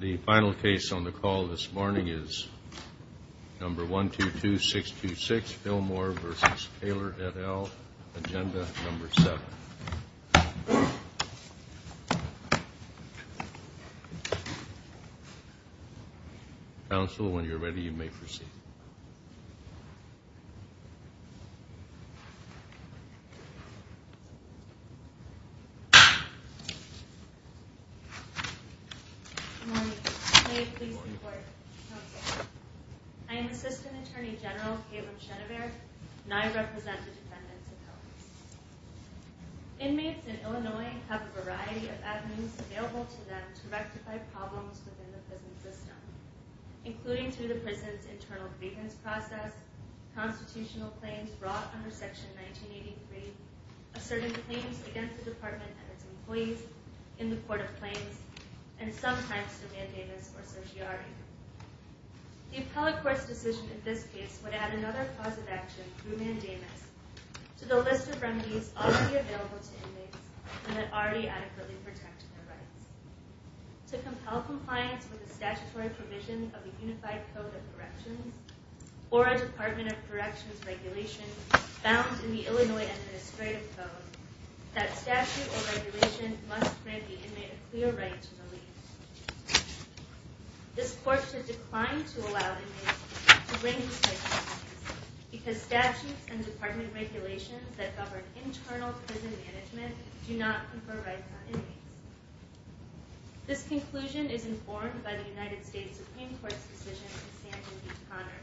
The final case on the call this morning is number 122626 Fillmore v. Taylor et al. Agenda number 7. Counsel, when you're ready, you may proceed. Good morning. May it please the Court, Counsel. I am Assistant Attorney General Caitlin Chenevert and I represent the defendants appelled. Inmates in Illinois have a variety of avenues available to them to rectify problems within the prison system, including through the prison's internal grievance process, constitutional claims brought under Section 1983, asserting claims against the Department and its employees in the Court of Claims, and sometimes to mandamus or certiorari. The appellate court's decision in this case would add another cause of action through mandamus to the list of remedies already available to inmates and that already adequately protect their rights. To compel compliance with the statutory provision of the Unified Code of Corrections or a Department of Corrections regulation found in the Illinois Administrative Code, that statute or regulation must grant the inmate a clear right to leave. This Court should decline to allow inmates to bring this type of case because statutes and Department regulations that govern internal prison management do not confer rights on inmates. This conclusion is informed by the United States Supreme Court's decision in Sanford v. Connor.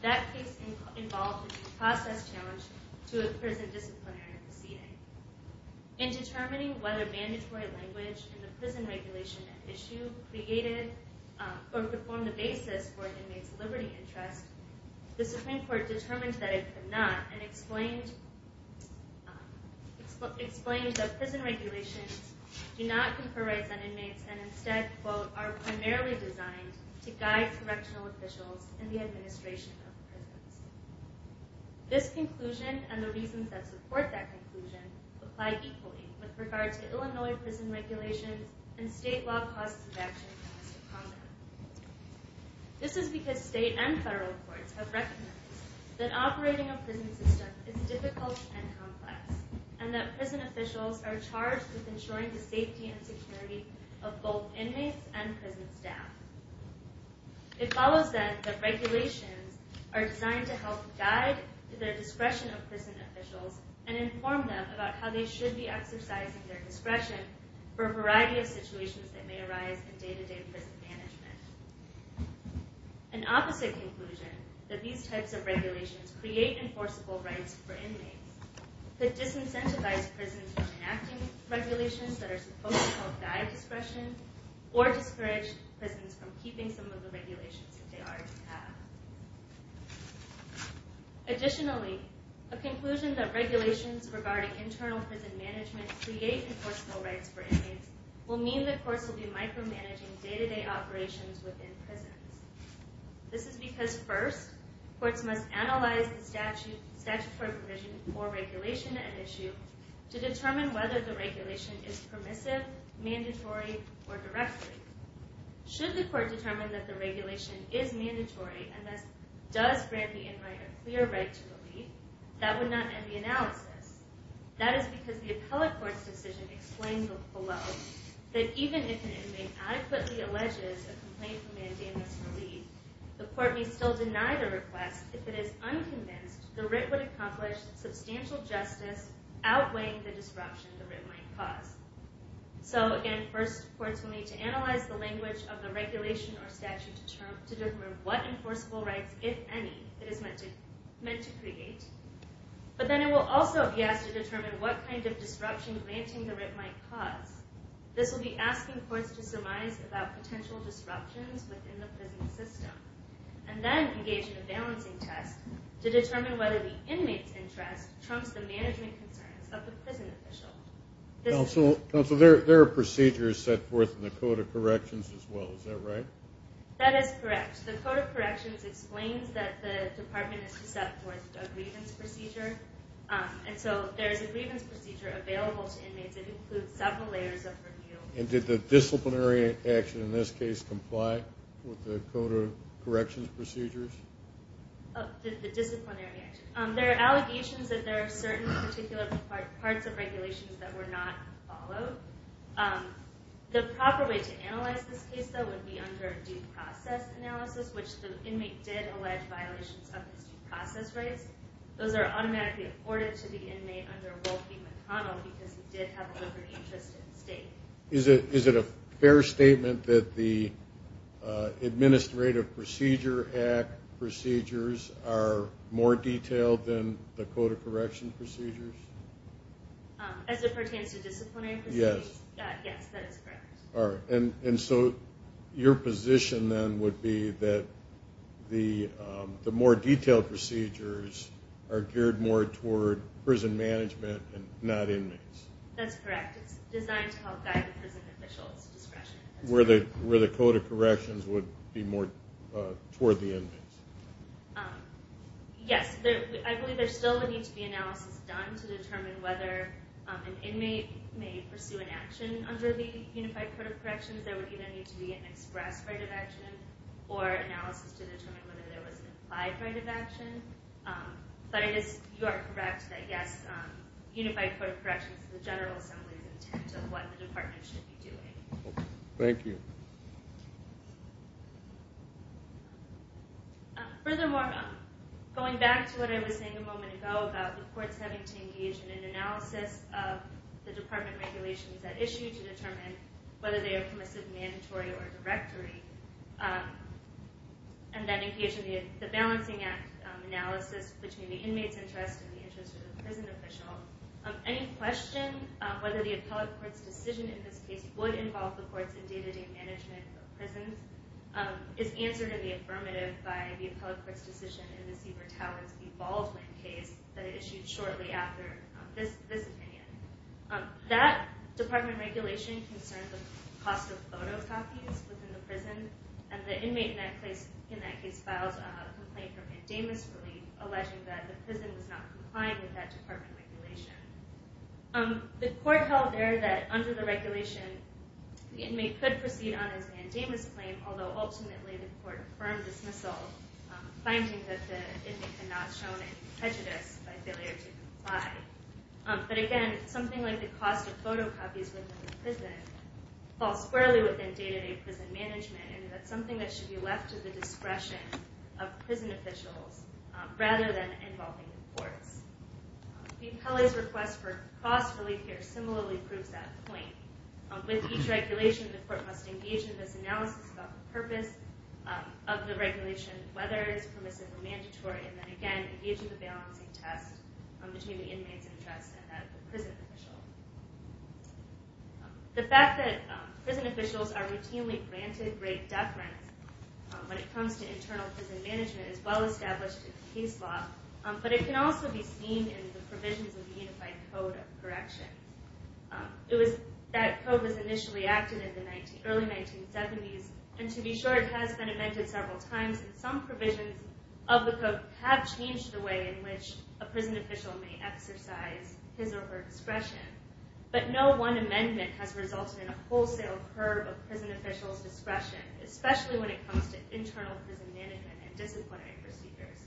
That case involved a due process challenge to a prison disciplinary proceeding. In determining whether mandatory language in the prison regulation issue created or could form the basis for an inmate's liberty interest, the Supreme Court determined that it could not and explained that prison regulations do not confer rights on inmates and instead, quote, are primarily designed to guide correctional officials in the administration of prisons. This conclusion and the reasons that support that conclusion apply equally with regard to Illinois prison regulations and state law causes of action in the list of condoms. This is because state and federal courts have recognized that operating a prison system is difficult and complex and that prison officials are charged with ensuring the safety and security of both inmates and prison staff. It follows then that regulations are designed to help guide the discretion of prison officials and inform them about how they should be exercising their discretion for a variety of situations that may arise in day-to-day prison management. An opposite conclusion, that these types of regulations create enforceable rights for inmates, could disincentivize prisons from enacting regulations that are supposed to help guide discretion or discourage prisons from keeping some of the regulations that they already have. Additionally, a conclusion that regulations regarding internal prison management create enforceable rights for inmates will mean that courts will be micromanaging day-to-day operations within prisons. This is because first, courts must analyze the statutory provision for regulation at issue to determine whether the regulation is permissive, mandatory, or directly. Should the court determine that the regulation is mandatory and thus does grant the inmate a clear right to leave, that would not end the analysis. That is because the appellate court's decision explains below that even if an inmate adequately alleges a complaint for mandamus relief, the court may still deny the request if it is unconvinced the writ would accomplish substantial justice outweighing the disruption the writ might cause. So again, first courts will need to analyze the language of the regulation or statute to determine what enforceable rights, if any, it is meant to create. But then it will also be asked to determine what kind of disruption granting the writ might cause. This will be asking courts to surmise about potential disruptions within the prison system and then engage in a balancing test to determine whether the inmate's interest trumps the management concerns of the prison official. Counsel, there are procedures set forth in the Code of Corrections as well, is that right? That is correct. The Code of Corrections explains that the department is to set forth a grievance procedure. And so there is a grievance procedure available to inmates that includes several layers of review. And did the disciplinary action in this case comply with the Code of Corrections procedures? The disciplinary action. There are allegations that there are certain particular parts of regulations that were not followed. The proper way to analyze this case, though, would be under due process analysis, which the inmate did allege violations of his due process rights. Those are automatically afforded to the inmate under Wolfie McConnell because he did have a different interest in the state. Is it a fair statement that the Administrative Procedure Act procedures are more detailed than the Code of Corrections procedures? As it pertains to disciplinary proceedings? Yes. Yes, that is correct. And so your position then would be that the more detailed procedures are geared more toward prison management and not inmates? That's correct. It's designed to help guide the prison official's discretion. Where the Code of Corrections would be more toward the inmates? Yes, I believe there still would need to be analysis done to determine whether an inmate may pursue an action under the Unified Code of Corrections. There would either need to be an express right of action or analysis to determine whether there was an implied right of action. But you are correct that, yes, Unified Code of Corrections is the General Assembly's intent of what the Department should be doing. Thank you. Furthermore, going back to what I was saying a moment ago about the courts having to engage in an analysis of the Department regulations at issue to determine whether they are permissive, mandatory, or directory, and then engage in the Balancing Act analysis between the inmates' interest and the interest of the prison official, any question whether the appellate court's decision in this case is answered in the affirmative by the appellate court's decision in the Siebert-Towers-Baldwin case that it issued shortly after this opinion. That Department regulation concerned the cost of photocopies within the prison, and the inmate in that case filed a complaint for mandamus relief, alleging that the prison was not complying with that Department regulation. The court held there that, under the regulation, the inmate could proceed on his mandamus claim, although ultimately the court affirmed dismissal, finding that the inmate had not shown any prejudice by failure to comply. But again, something like the cost of photocopies within the prison falls squarely within day-to-day prison management, and that's something that should be left to the discretion of prison officials rather than involving the courts. Dean Kelley's request for cost relief here similarly proves that point. With each regulation, the court must engage in this analysis about the purpose of the regulation, whether it is permissive or mandatory, and then again engage in the balancing test between the inmate's interest and that of the prison official. The fact that prison officials are routinely granted great deference when it comes to internal prison management is well established in the case law, but it can also be seen in the provisions of the Unified Code of Corrections. That code was initially acted in the early 1970s, and to be sure, it has been amended several times, and some provisions of the code have changed the way in which a prison official may exercise his or her discretion. But no one amendment has resulted in a wholesale curb of prison officials' discretion, especially when it comes to internal prison management and disciplinary procedures.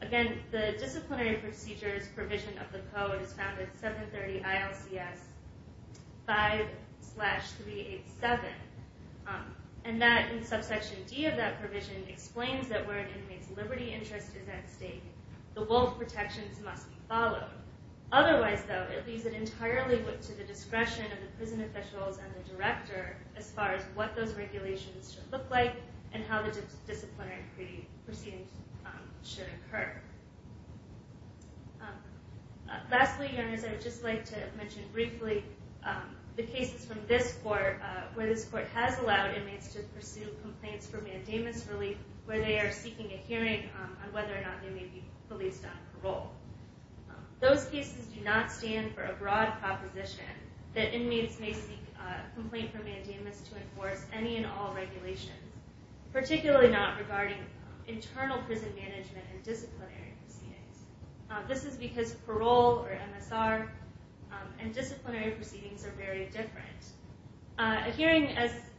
Again, the disciplinary procedures provision of the code is found in 730 ILCS 5-387, and that, in subsection D of that provision, explains that where an inmate's liberty interest is at stake, the wolf protections must be followed. Otherwise, though, it leaves it entirely to the discretion of the prison officials and the director as far as what those regulations should look like and how the disciplinary proceedings should occur. Lastly, Your Honors, I would just like to mention briefly the cases from this court where this court has allowed inmates to pursue complaints for mandamus relief where they are seeking a hearing on whether or not they may be released on parole. Those cases do not stand for a broad proposition that inmates may seek a complaint for mandamus to enforce any and all regulations, particularly not regarding internal prison management and disciplinary proceedings. This is because parole or MSR and disciplinary proceedings are very different. A hearing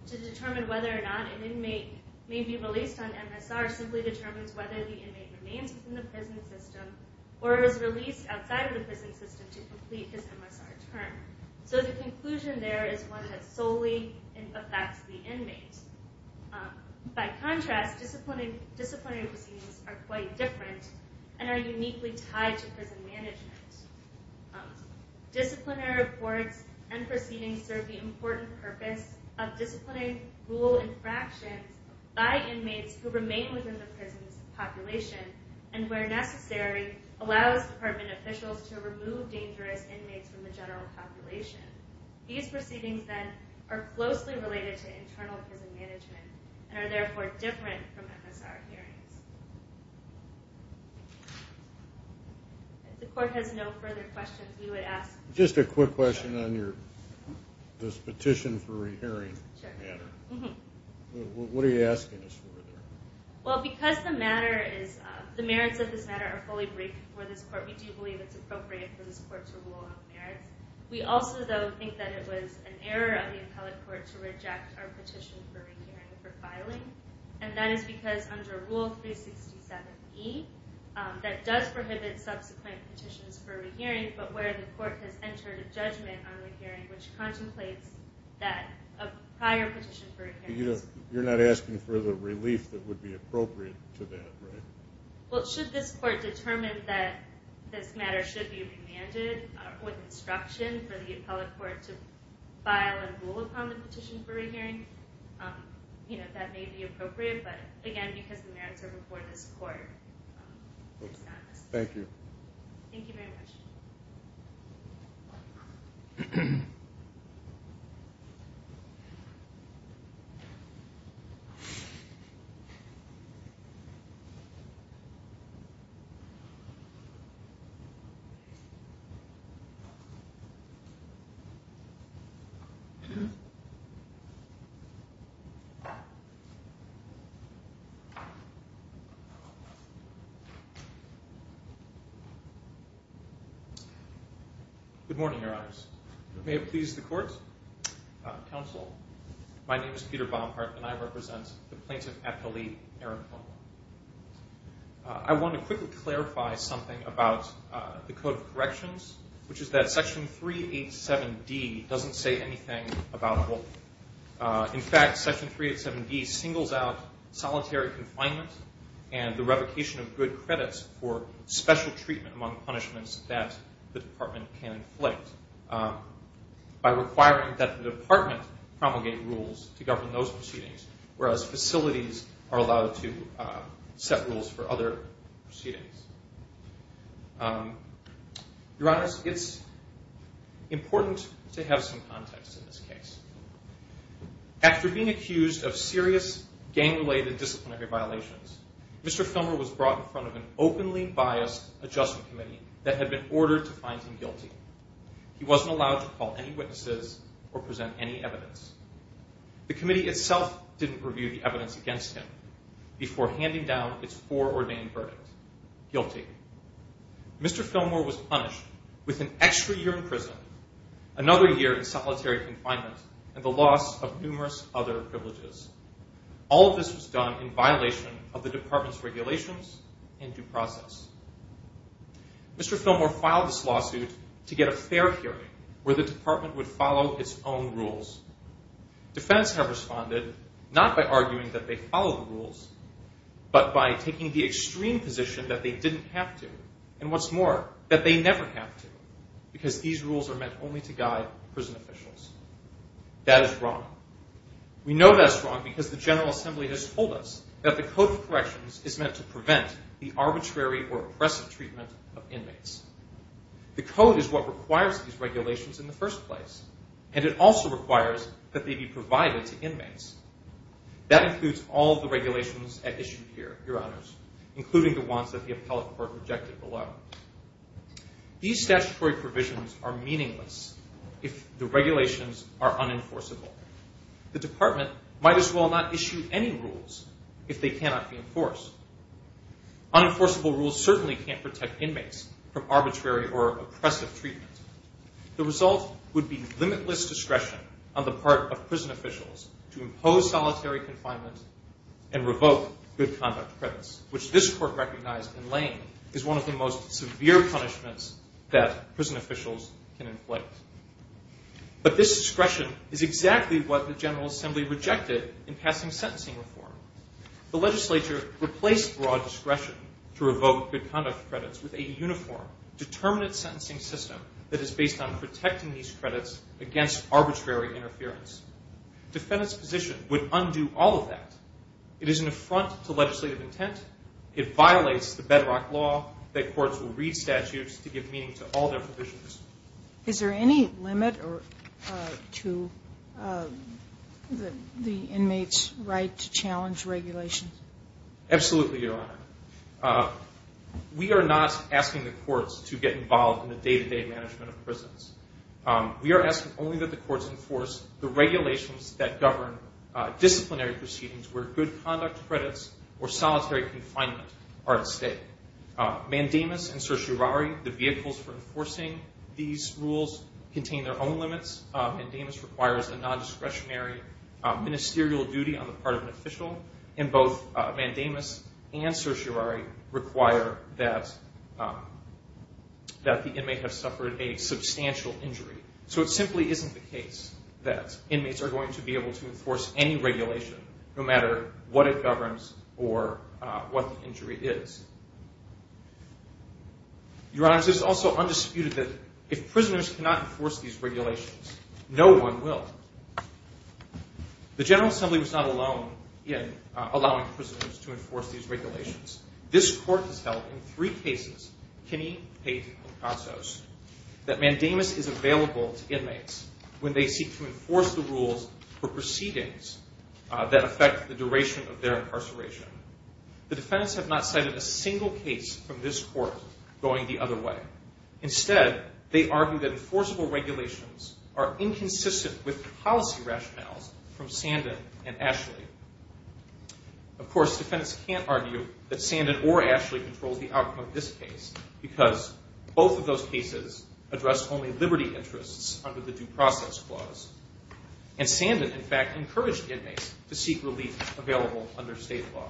to determine whether or not an inmate may be released on MSR simply determines whether the inmate remains within the prison system or is released outside of the prison system to complete his MSR term. So the conclusion there is one that solely affects the inmate. By contrast, disciplinary proceedings are quite different and are uniquely tied to prison management. Disciplinary reports and proceedings serve the important purpose of disciplinary rule infractions by inmates who remain within the prison's population and, where necessary, allows department officials to remove dangerous inmates from the general population. These proceedings, then, are closely related to internal prison management and are therefore different from MSR hearings. If the court has no further questions, we would ask... Just a quick question on your petition for a hearing matter. What are you asking us for there? Well, because the merits of this matter are fully briefed before this court, we do believe it's appropriate for this court to rule on the merits. We also, though, think that it was an error of the appellate court to reject our petition for re-hearing for filing, and that is because under Rule 367E, that does prohibit subsequent petitions for re-hearing, but where the court has entered a judgment on re-hearing which contemplates that a prior petition for re-hearing... You're not asking for the relief that would be appropriate to that, right? Well, should this court determine that this matter should be remanded with instruction for the appellate court to file and rule upon the petition for re-hearing? That may be appropriate, but again, because the merits are before this court, it's not necessary. Thank you. Thank you very much. Thank you. Good morning, Your Honors. May it please the court, counsel, my name is Peter Bomhart, and I represent the plaintiff appellee, Eric Bumhart. I want to quickly clarify something about the Code of Corrections, which is that Section 387D doesn't say anything about wolf. In fact, Section 387D singles out solitary confinement and the revocation of good credits for special treatment among punishments that the department can inflict. By requiring that the department promulgate rules to govern those proceedings, whereas facilities are allowed to set rules for other proceedings. Your Honors, it's important to have some context in this case. After being accused of serious gang-related disciplinary violations, Mr. Filmer was brought in front of an openly biased adjustment committee that had been ordered to find him guilty. He wasn't allowed to call any witnesses or present any evidence. The committee itself didn't review the evidence against him before handing down its foreordained verdict, guilty. Mr. Filmer was punished with an extra year in prison, another year in solitary confinement, and the loss of numerous other privileges. All of this was done in violation of the department's regulations and due process. Mr. Filmer filed this lawsuit to get a fair hearing where the department would follow its own rules. Defendants have responded, not by arguing that they follow the rules, but by taking the extreme position that they didn't have to, and what's more, that they never have to, because these rules are meant only to guide prison officials. That is wrong. We know that's wrong because the General Assembly has told us that the Code of Corrections is meant to prevent the arbitrary or oppressive treatment of inmates. The Code is what requires these regulations in the first place, and it also requires that they be provided to inmates. That includes all of the regulations at issue here, Your Honors, including the ones that the appellate court rejected below. These statutory provisions are meaningless if the regulations are unenforceable. The department might as well not issue any rules if they cannot be enforced. Unenforceable rules certainly can't protect inmates from arbitrary or oppressive treatment. The result would be limitless discretion on the part of prison officials to impose solitary confinement and revoke good conduct credits, which this court recognized in Lane But this discretion is exactly what the General Assembly rejected in passing sentencing reform. The legislature replaced broad discretion to revoke good conduct credits with a uniform, determinate sentencing system that is based on protecting these credits against arbitrary interference. Defendants' position would undo all of that. It is an affront to legislative intent. It violates the bedrock law that courts will read statutes to give meaning to all their provisions. Is there any limit to the inmates' right to challenge regulations? Absolutely, Your Honor. We are not asking the courts to get involved in the day-to-day management of prisons. We are asking only that the courts enforce the regulations that govern disciplinary proceedings where good conduct credits or solitary confinement are at stake. Mandamus and certiorari, the vehicles for enforcing these rules, contain their own limits. Mandamus requires a non-discretionary ministerial duty on the part of an official, and both Mandamus and certiorari require that the inmate have suffered a substantial injury. So it simply isn't the case that inmates are going to be able to enforce any regulation, no matter what it governs or what the injury is. Your Honors, it is also undisputed that if prisoners cannot enforce these regulations, no one will. The General Assembly was not alone in allowing prisoners to enforce these regulations. This Court has held in three cases, Kinney, Pate, and Picasso's, that Mandamus is available to inmates when they seek to enforce the rules for proceedings that affect the duration of their incarceration. The defendants have not cited a single case from this Court going the other way. Instead, they argue that enforceable regulations are inconsistent with policy rationales from Sandin and Ashley. Of course, defendants can't argue that Sandin or Ashley controlled the outcome of this case, because both of those cases addressed only liberty interests under the Due Process Clause, and Sandin, in fact, encouraged inmates to seek relief available under state law.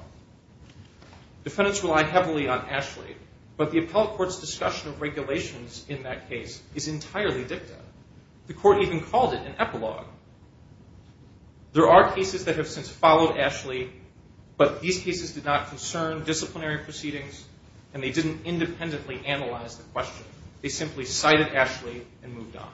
Defendants rely heavily on Ashley, but the Appellate Court's discussion of regulations in that case is entirely dicta. The Court even called it an epilogue. There are cases that have since followed Ashley, but these cases did not concern disciplinary proceedings, and they didn't independently analyze the question. They simply cited Ashley and moved on.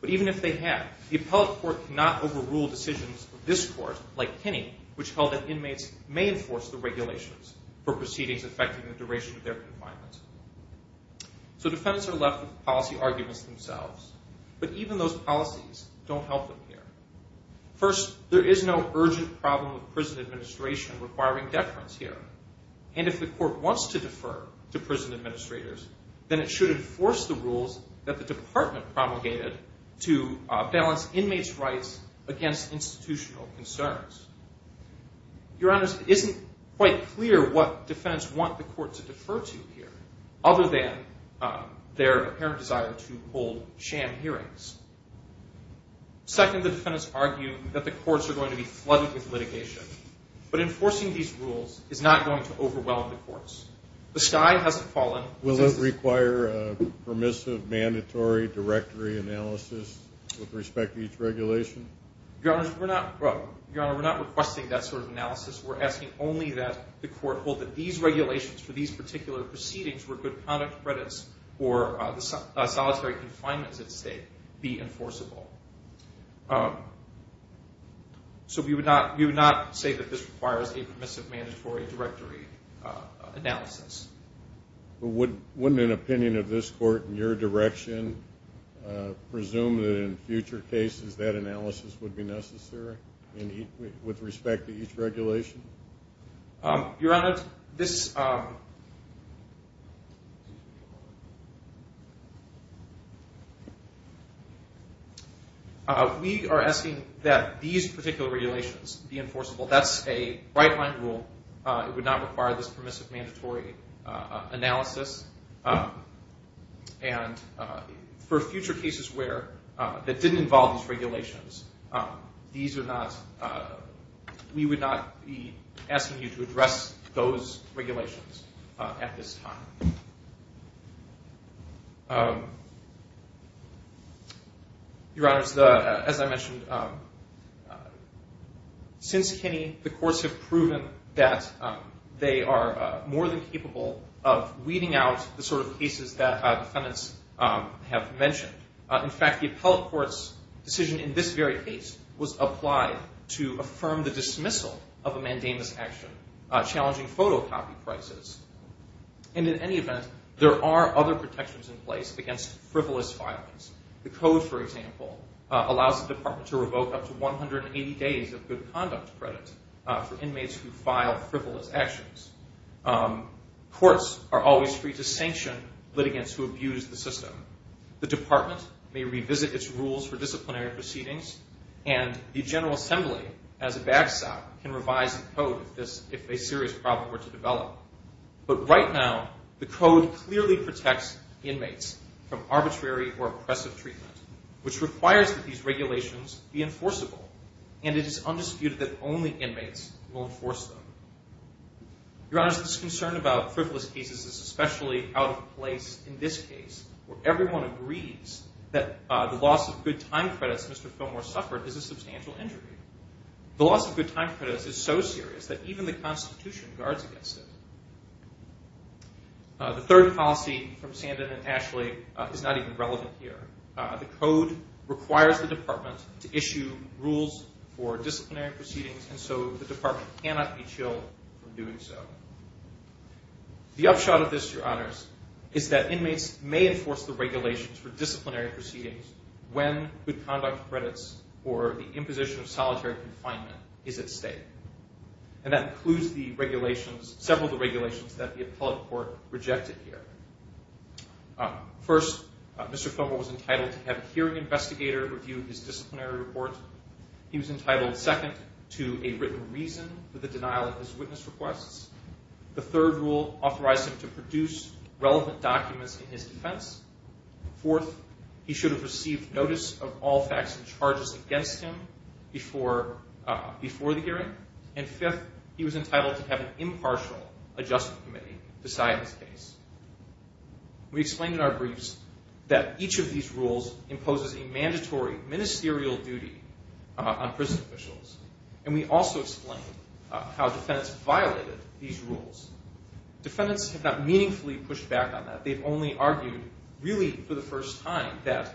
But even if they have, the Appellate Court cannot overrule decisions of this Court, like Kinney, which held that inmates may enforce the regulations for proceedings affecting the duration of their confinement. So defendants are left with policy arguments themselves, but even those policies don't help them here. First, there is no urgent problem with prison administration requiring deference here, and if the Court wants to defer to prison administrators, then it should enforce the rules that the Department promulgated to balance inmates' rights against institutional concerns. Your Honors, it isn't quite clear what defendants want the Court to defer to here, other than their apparent desire to hold sham hearings. Second, the defendants argue that the Courts are going to be flooded with litigation, but enforcing these rules is not going to overwhelm the Courts. The sky hasn't fallen. Will it require a permissive, mandatory directory analysis with respect to each regulation? Your Honors, we're not requesting that sort of analysis. We're asking only that the Court hold that these regulations for these particular proceedings where good conduct credits for solitary confinements at stake be enforceable. So we would not say that this requires a permissive, mandatory directory analysis. Wouldn't an opinion of this Court in your direction presume that in future cases that analysis would be necessary with respect to each regulation? Your Honors, we are asking that these particular regulations be enforceable. That's a right-line rule. It would not require this permissive, mandatory analysis. And for future cases that didn't involve these regulations, we would not be asking you to address those regulations at this time. Your Honors, as I mentioned, since Kinney, the Courts have proven that they are more than capable of weeding out the sort of cases that defendants have mentioned. In fact, the Appellate Court's decision in this very case was applied to affirm the dismissal of a mandamus action challenging photocopy prices. And in any event, there are other protections in place against frivolous violence. The Code, for example, allows the Department to revoke up to 180 days of good conduct credit for inmates who file frivolous actions. Courts are always free to sanction litigants who abuse the system. The Department may revisit its rules for disciplinary proceedings, and the General Assembly, as a backstop, can revise the Code if a serious problem were to develop. But right now, the Code clearly protects inmates from arbitrary or oppressive treatment, which requires that these regulations be enforceable. And it is undisputed that only inmates will enforce them. Your Honors, this concern about frivolous cases is especially out of place in this case, where everyone agrees that the loss of good time credits Mr. Fillmore suffered is a substantial injury. The loss of good time credits is so serious that even the Constitution guards against it. The third policy from Sandin and Ashley is not even relevant here. The Code requires the Department to issue rules for disciplinary proceedings, and so the Department cannot be chilled from doing so. The upshot of this, Your Honors, is that inmates may enforce the regulations for disciplinary proceedings when good conduct credits or the imposition of solitary confinement is at stake. And that includes several of the regulations that the appellate court rejected here. First, Mr. Fillmore was entitled to have a hearing investigator review his disciplinary report. He was entitled, second, to a written reason for the denial of his witness requests. The third rule authorized him to produce relevant documents in his defense. Fourth, he should have received notice of all facts and charges against him before the hearing. And fifth, he was entitled to have an impartial adjustment committee beside his case. We explained in our briefs that each of these rules imposes a mandatory ministerial duty on prison officials, and we also explained how defendants violated these rules. Defendants have not meaningfully pushed back on that. They've only argued, really for the first time, that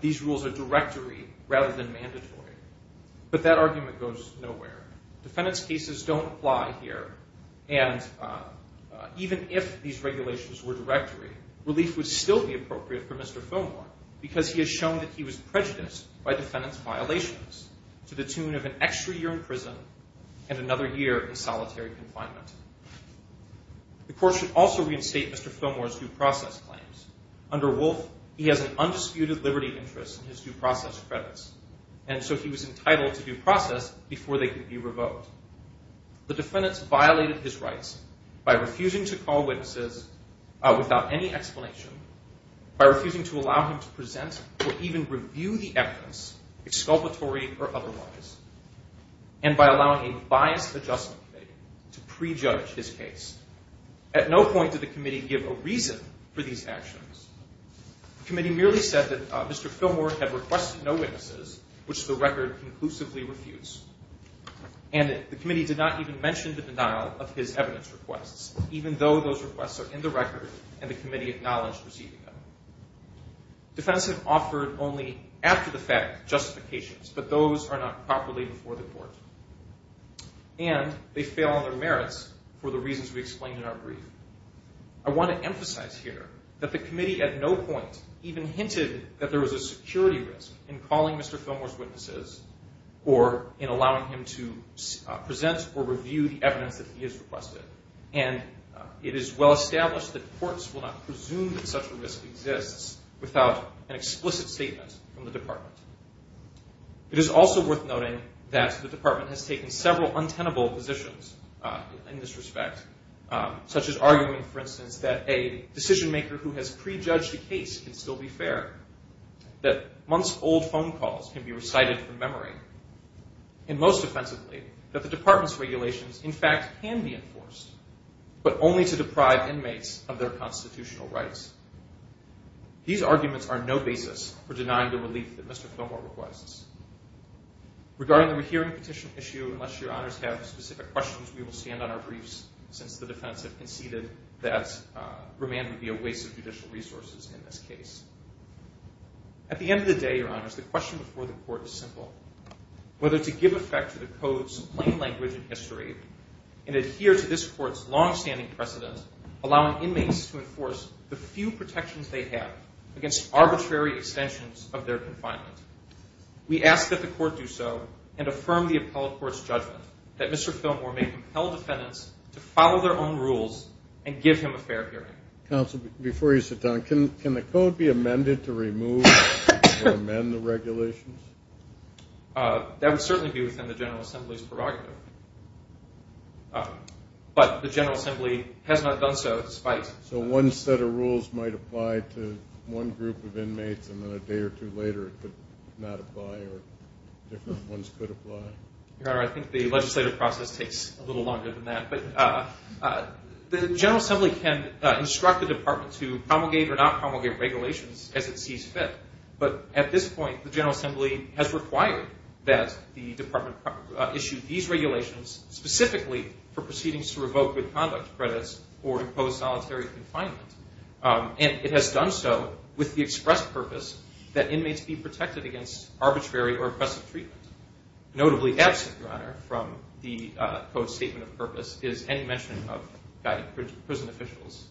these rules are directory rather than mandatory. But that argument goes nowhere. Defendants' cases don't apply here. And even if these regulations were directory, relief would still be appropriate for Mr. Fillmore because he has shown that he was prejudiced by defendants' violations to the tune of an extra year in prison and another year in solitary confinement. The court should also reinstate Mr. Fillmore's due process claims. Under Wolf, he has an undisputed liberty interest in his due process credits, and so he was entitled to due process before they could be revoked. The defendants violated his rights by refusing to call witnesses without any explanation, by refusing to allow him to present or even review the evidence, exculpatory or otherwise, and by allowing a biased adjustment committee to prejudge his case. At no point did the committee give a reason for these actions. The committee merely said that Mr. Fillmore had requested no witnesses, which the record conclusively refutes, and the committee did not even mention the denial of his evidence requests, even though those requests are in the record and the committee acknowledged receiving them. Defendants have offered only after-the-fact justifications, but those are not properly before the court. And they fail on their merits for the reasons we explained in our brief. I want to emphasize here that the committee at no point even hinted that there was a security risk in calling Mr. Fillmore's witnesses or in allowing him to present or review the evidence that he has requested, and it is well established that courts will not presume that such a risk exists without an explicit statement from the department. It is also worth noting that the department has taken several untenable positions in this respect, such as arguing, for instance, that a decision-maker who has prejudged a case can still be fair, that months-old phone calls can be recited from memory, and most offensively, that the department's regulations, in fact, can be enforced, but only to deprive inmates of their constitutional rights. These arguments are no basis for denying the relief that Mr. Fillmore requests. Regarding the rehearing petition issue, unless your honors have specific questions, we will stand on our briefs since the defense has conceded that remand would be a waste of judicial resources in this case. At the end of the day, your honors, the question before the court is simple. Whether to give effect to the code's plain language and history and adhere to this court's longstanding precedent, allowing inmates to enforce the few protections they have against arbitrary extensions of their confinement. We ask that the court do so and affirm the appellate court's judgment that Mr. Fillmore may compel defendants to follow their own rules and give him a fair hearing. Counsel, before you sit down, can the code be amended to remove or amend the regulations? That would certainly be within the General Assembly's prerogative. But the General Assembly has not done so despite— So one set of rules might apply to one group of inmates and then a day or two later it could not apply or different ones could apply? Your honor, I think the legislative process takes a little longer than that. But the General Assembly can instruct the department to promulgate or not promulgate regulations as it sees fit. But at this point, the General Assembly has required that the department issue these regulations specifically for proceedings to revoke good conduct credits or to impose solitary confinement. And it has done so with the express purpose that inmates be protected against arbitrary or oppressive treatment. Notably absent, your honor, from the code's statement of purpose is any mention of guided prison officials.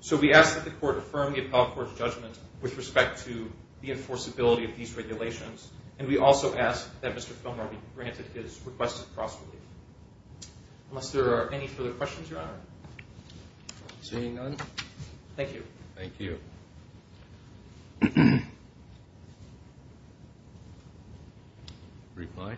So we ask that the court affirm the appellate court's judgment with respect to the enforceability of these regulations. And we also ask that Mr. Fillmore be granted his request of cross-relief. Unless there are any further questions, your honor. Seeing none. Thank you. Thank you. Reply.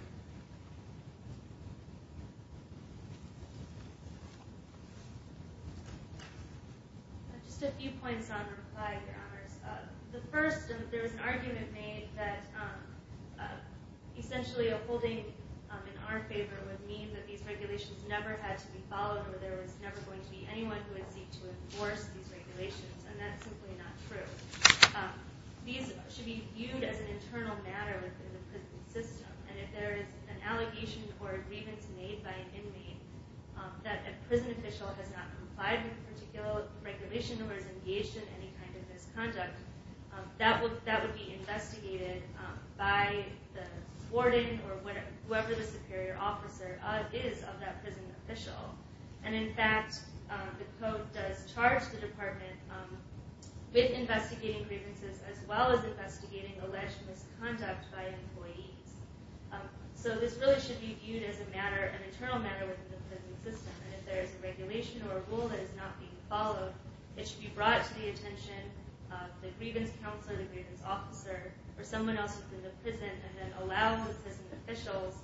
Just a few points on reply, your honors. The first, there's an argument made that essentially a holding in our favor would mean that these regulations never had to be followed or there was never going to be anyone who would seek to enforce these regulations. And that's simply not true. These should be viewed as an internal matter within the prison system. And if there is an allegation or a grievance made by an inmate that a prison official has not complied with a particular regulation or is engaged in any kind of misconduct, that would be investigated by the warden or whoever the superior officer is of that prison official. And in fact, the code does charge the department with investigating grievances as well as investigating alleged misconduct by employees. So this really should be viewed as an internal matter within the prison system. And if there is a regulation or a rule that is not being followed, it should be brought to the attention of the grievance counselor, the grievance officer, or someone else within the prison and then allow the prison officials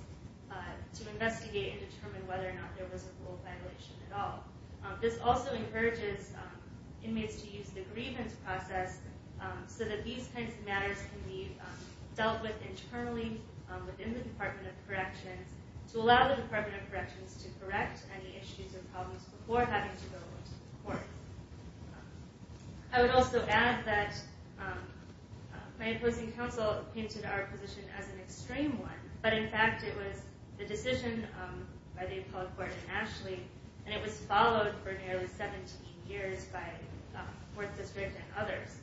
to investigate and determine whether or not there was a rule violation at all. This also encourages inmates to use the grievance process so that these kinds of matters can be dealt with internally within the Department of Corrections to allow the Department of Corrections to correct any issues or problems before having to go to court. I would also add that my opposing counsel painted our position as an extreme one, but in fact it was the decision by the appellate court in Ashley and it was followed for nearly 17 years by 4th District and others.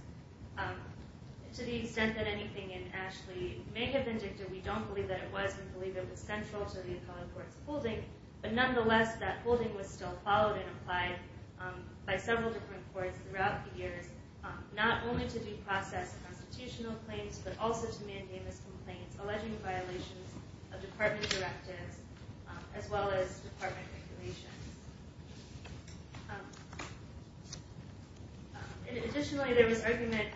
To the extent that anything in Ashley may have been dictated, we don't believe that it was and believe it was central to the appellate court's holding, but nonetheless that holding was still followed and applied by several different courts throughout the years, not only to deprocess constitutional claims, but also to mandamus complaints alleging violations of Department directives as well as Department regulations. Additionally, there was argument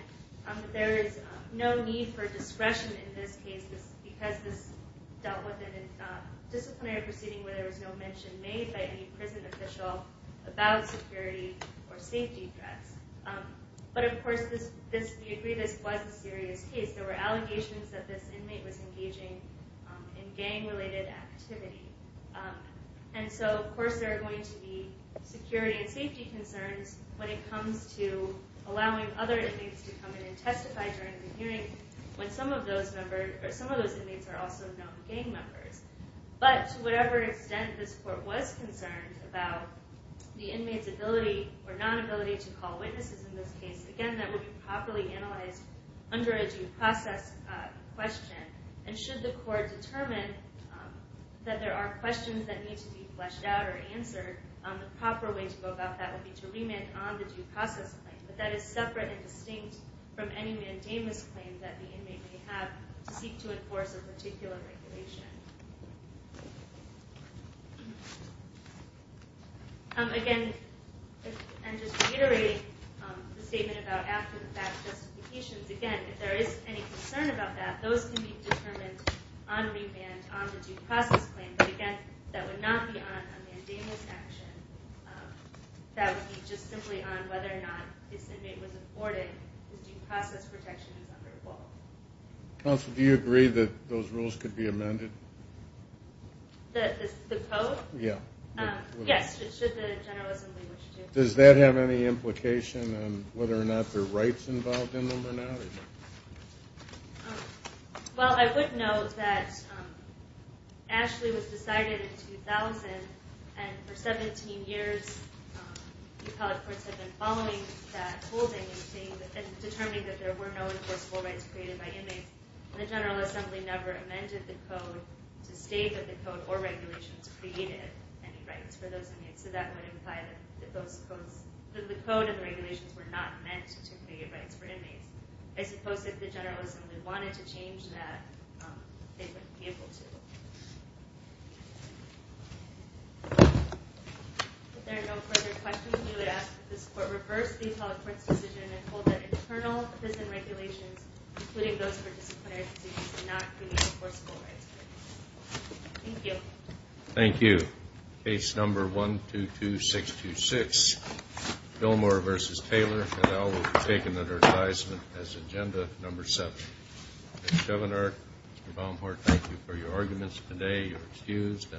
that there is no need for discretion in this case because this dealt with in a disciplinary proceeding where there was no mention made by any prison official about security or safety threats. But of course we agree this was a serious case. There were allegations that this inmate was engaging in gang-related activity. And so of course there are going to be security and safety concerns when it comes to allowing other inmates to come in and testify during the hearing when some of those inmates are also known gang members. But to whatever extent this court was concerned about the inmate's ability or nonability to call witnesses in this case, again that would be properly analyzed under a due process question. And should the court determine that there are questions that need to be fleshed out or answered, the proper way to go about that would be to remand on the due process claim. But that is separate and distinct from any mandamus claim that the inmate may have to seek to enforce a particular regulation. Again, I'm just reiterating the statement about after-the-fact justifications. Again, if there is any concern about that, those can be determined on remand on the due process claim. But again, that would not be on a mandamus action. That would be just simply on whether or not this inmate was afforded his due process protections under the law. Counsel, do you agree that those rules could be amended? The code? Yeah. Yes, should the General Assembly wish to. Does that have any implication on whether or not there are rights involved in them or not? Well, I would note that Ashley was decided in 2000, and for 17 years the appellate courts have been following that holding and determining that there were no enforceable rights created by inmates. The General Assembly never amended the code to state that the code or regulations created any rights for those inmates. So that would imply that the code and the regulations were not meant to create rights for inmates. I suppose if the General Assembly wanted to change that, they wouldn't be able to. If there are no further questions, we would ask that this Court reverse the appellate court's decision and hold that internal prison regulations, including those for disciplinary proceedings, do not create enforceable rights for inmates. Thank you. Thank you. Case number 122626, Fillmore v. Taylor. And I will take an advertisement as agenda number seven. Mr. Governor, Mr. Baumgart, thank you for your arguments today. You're excused.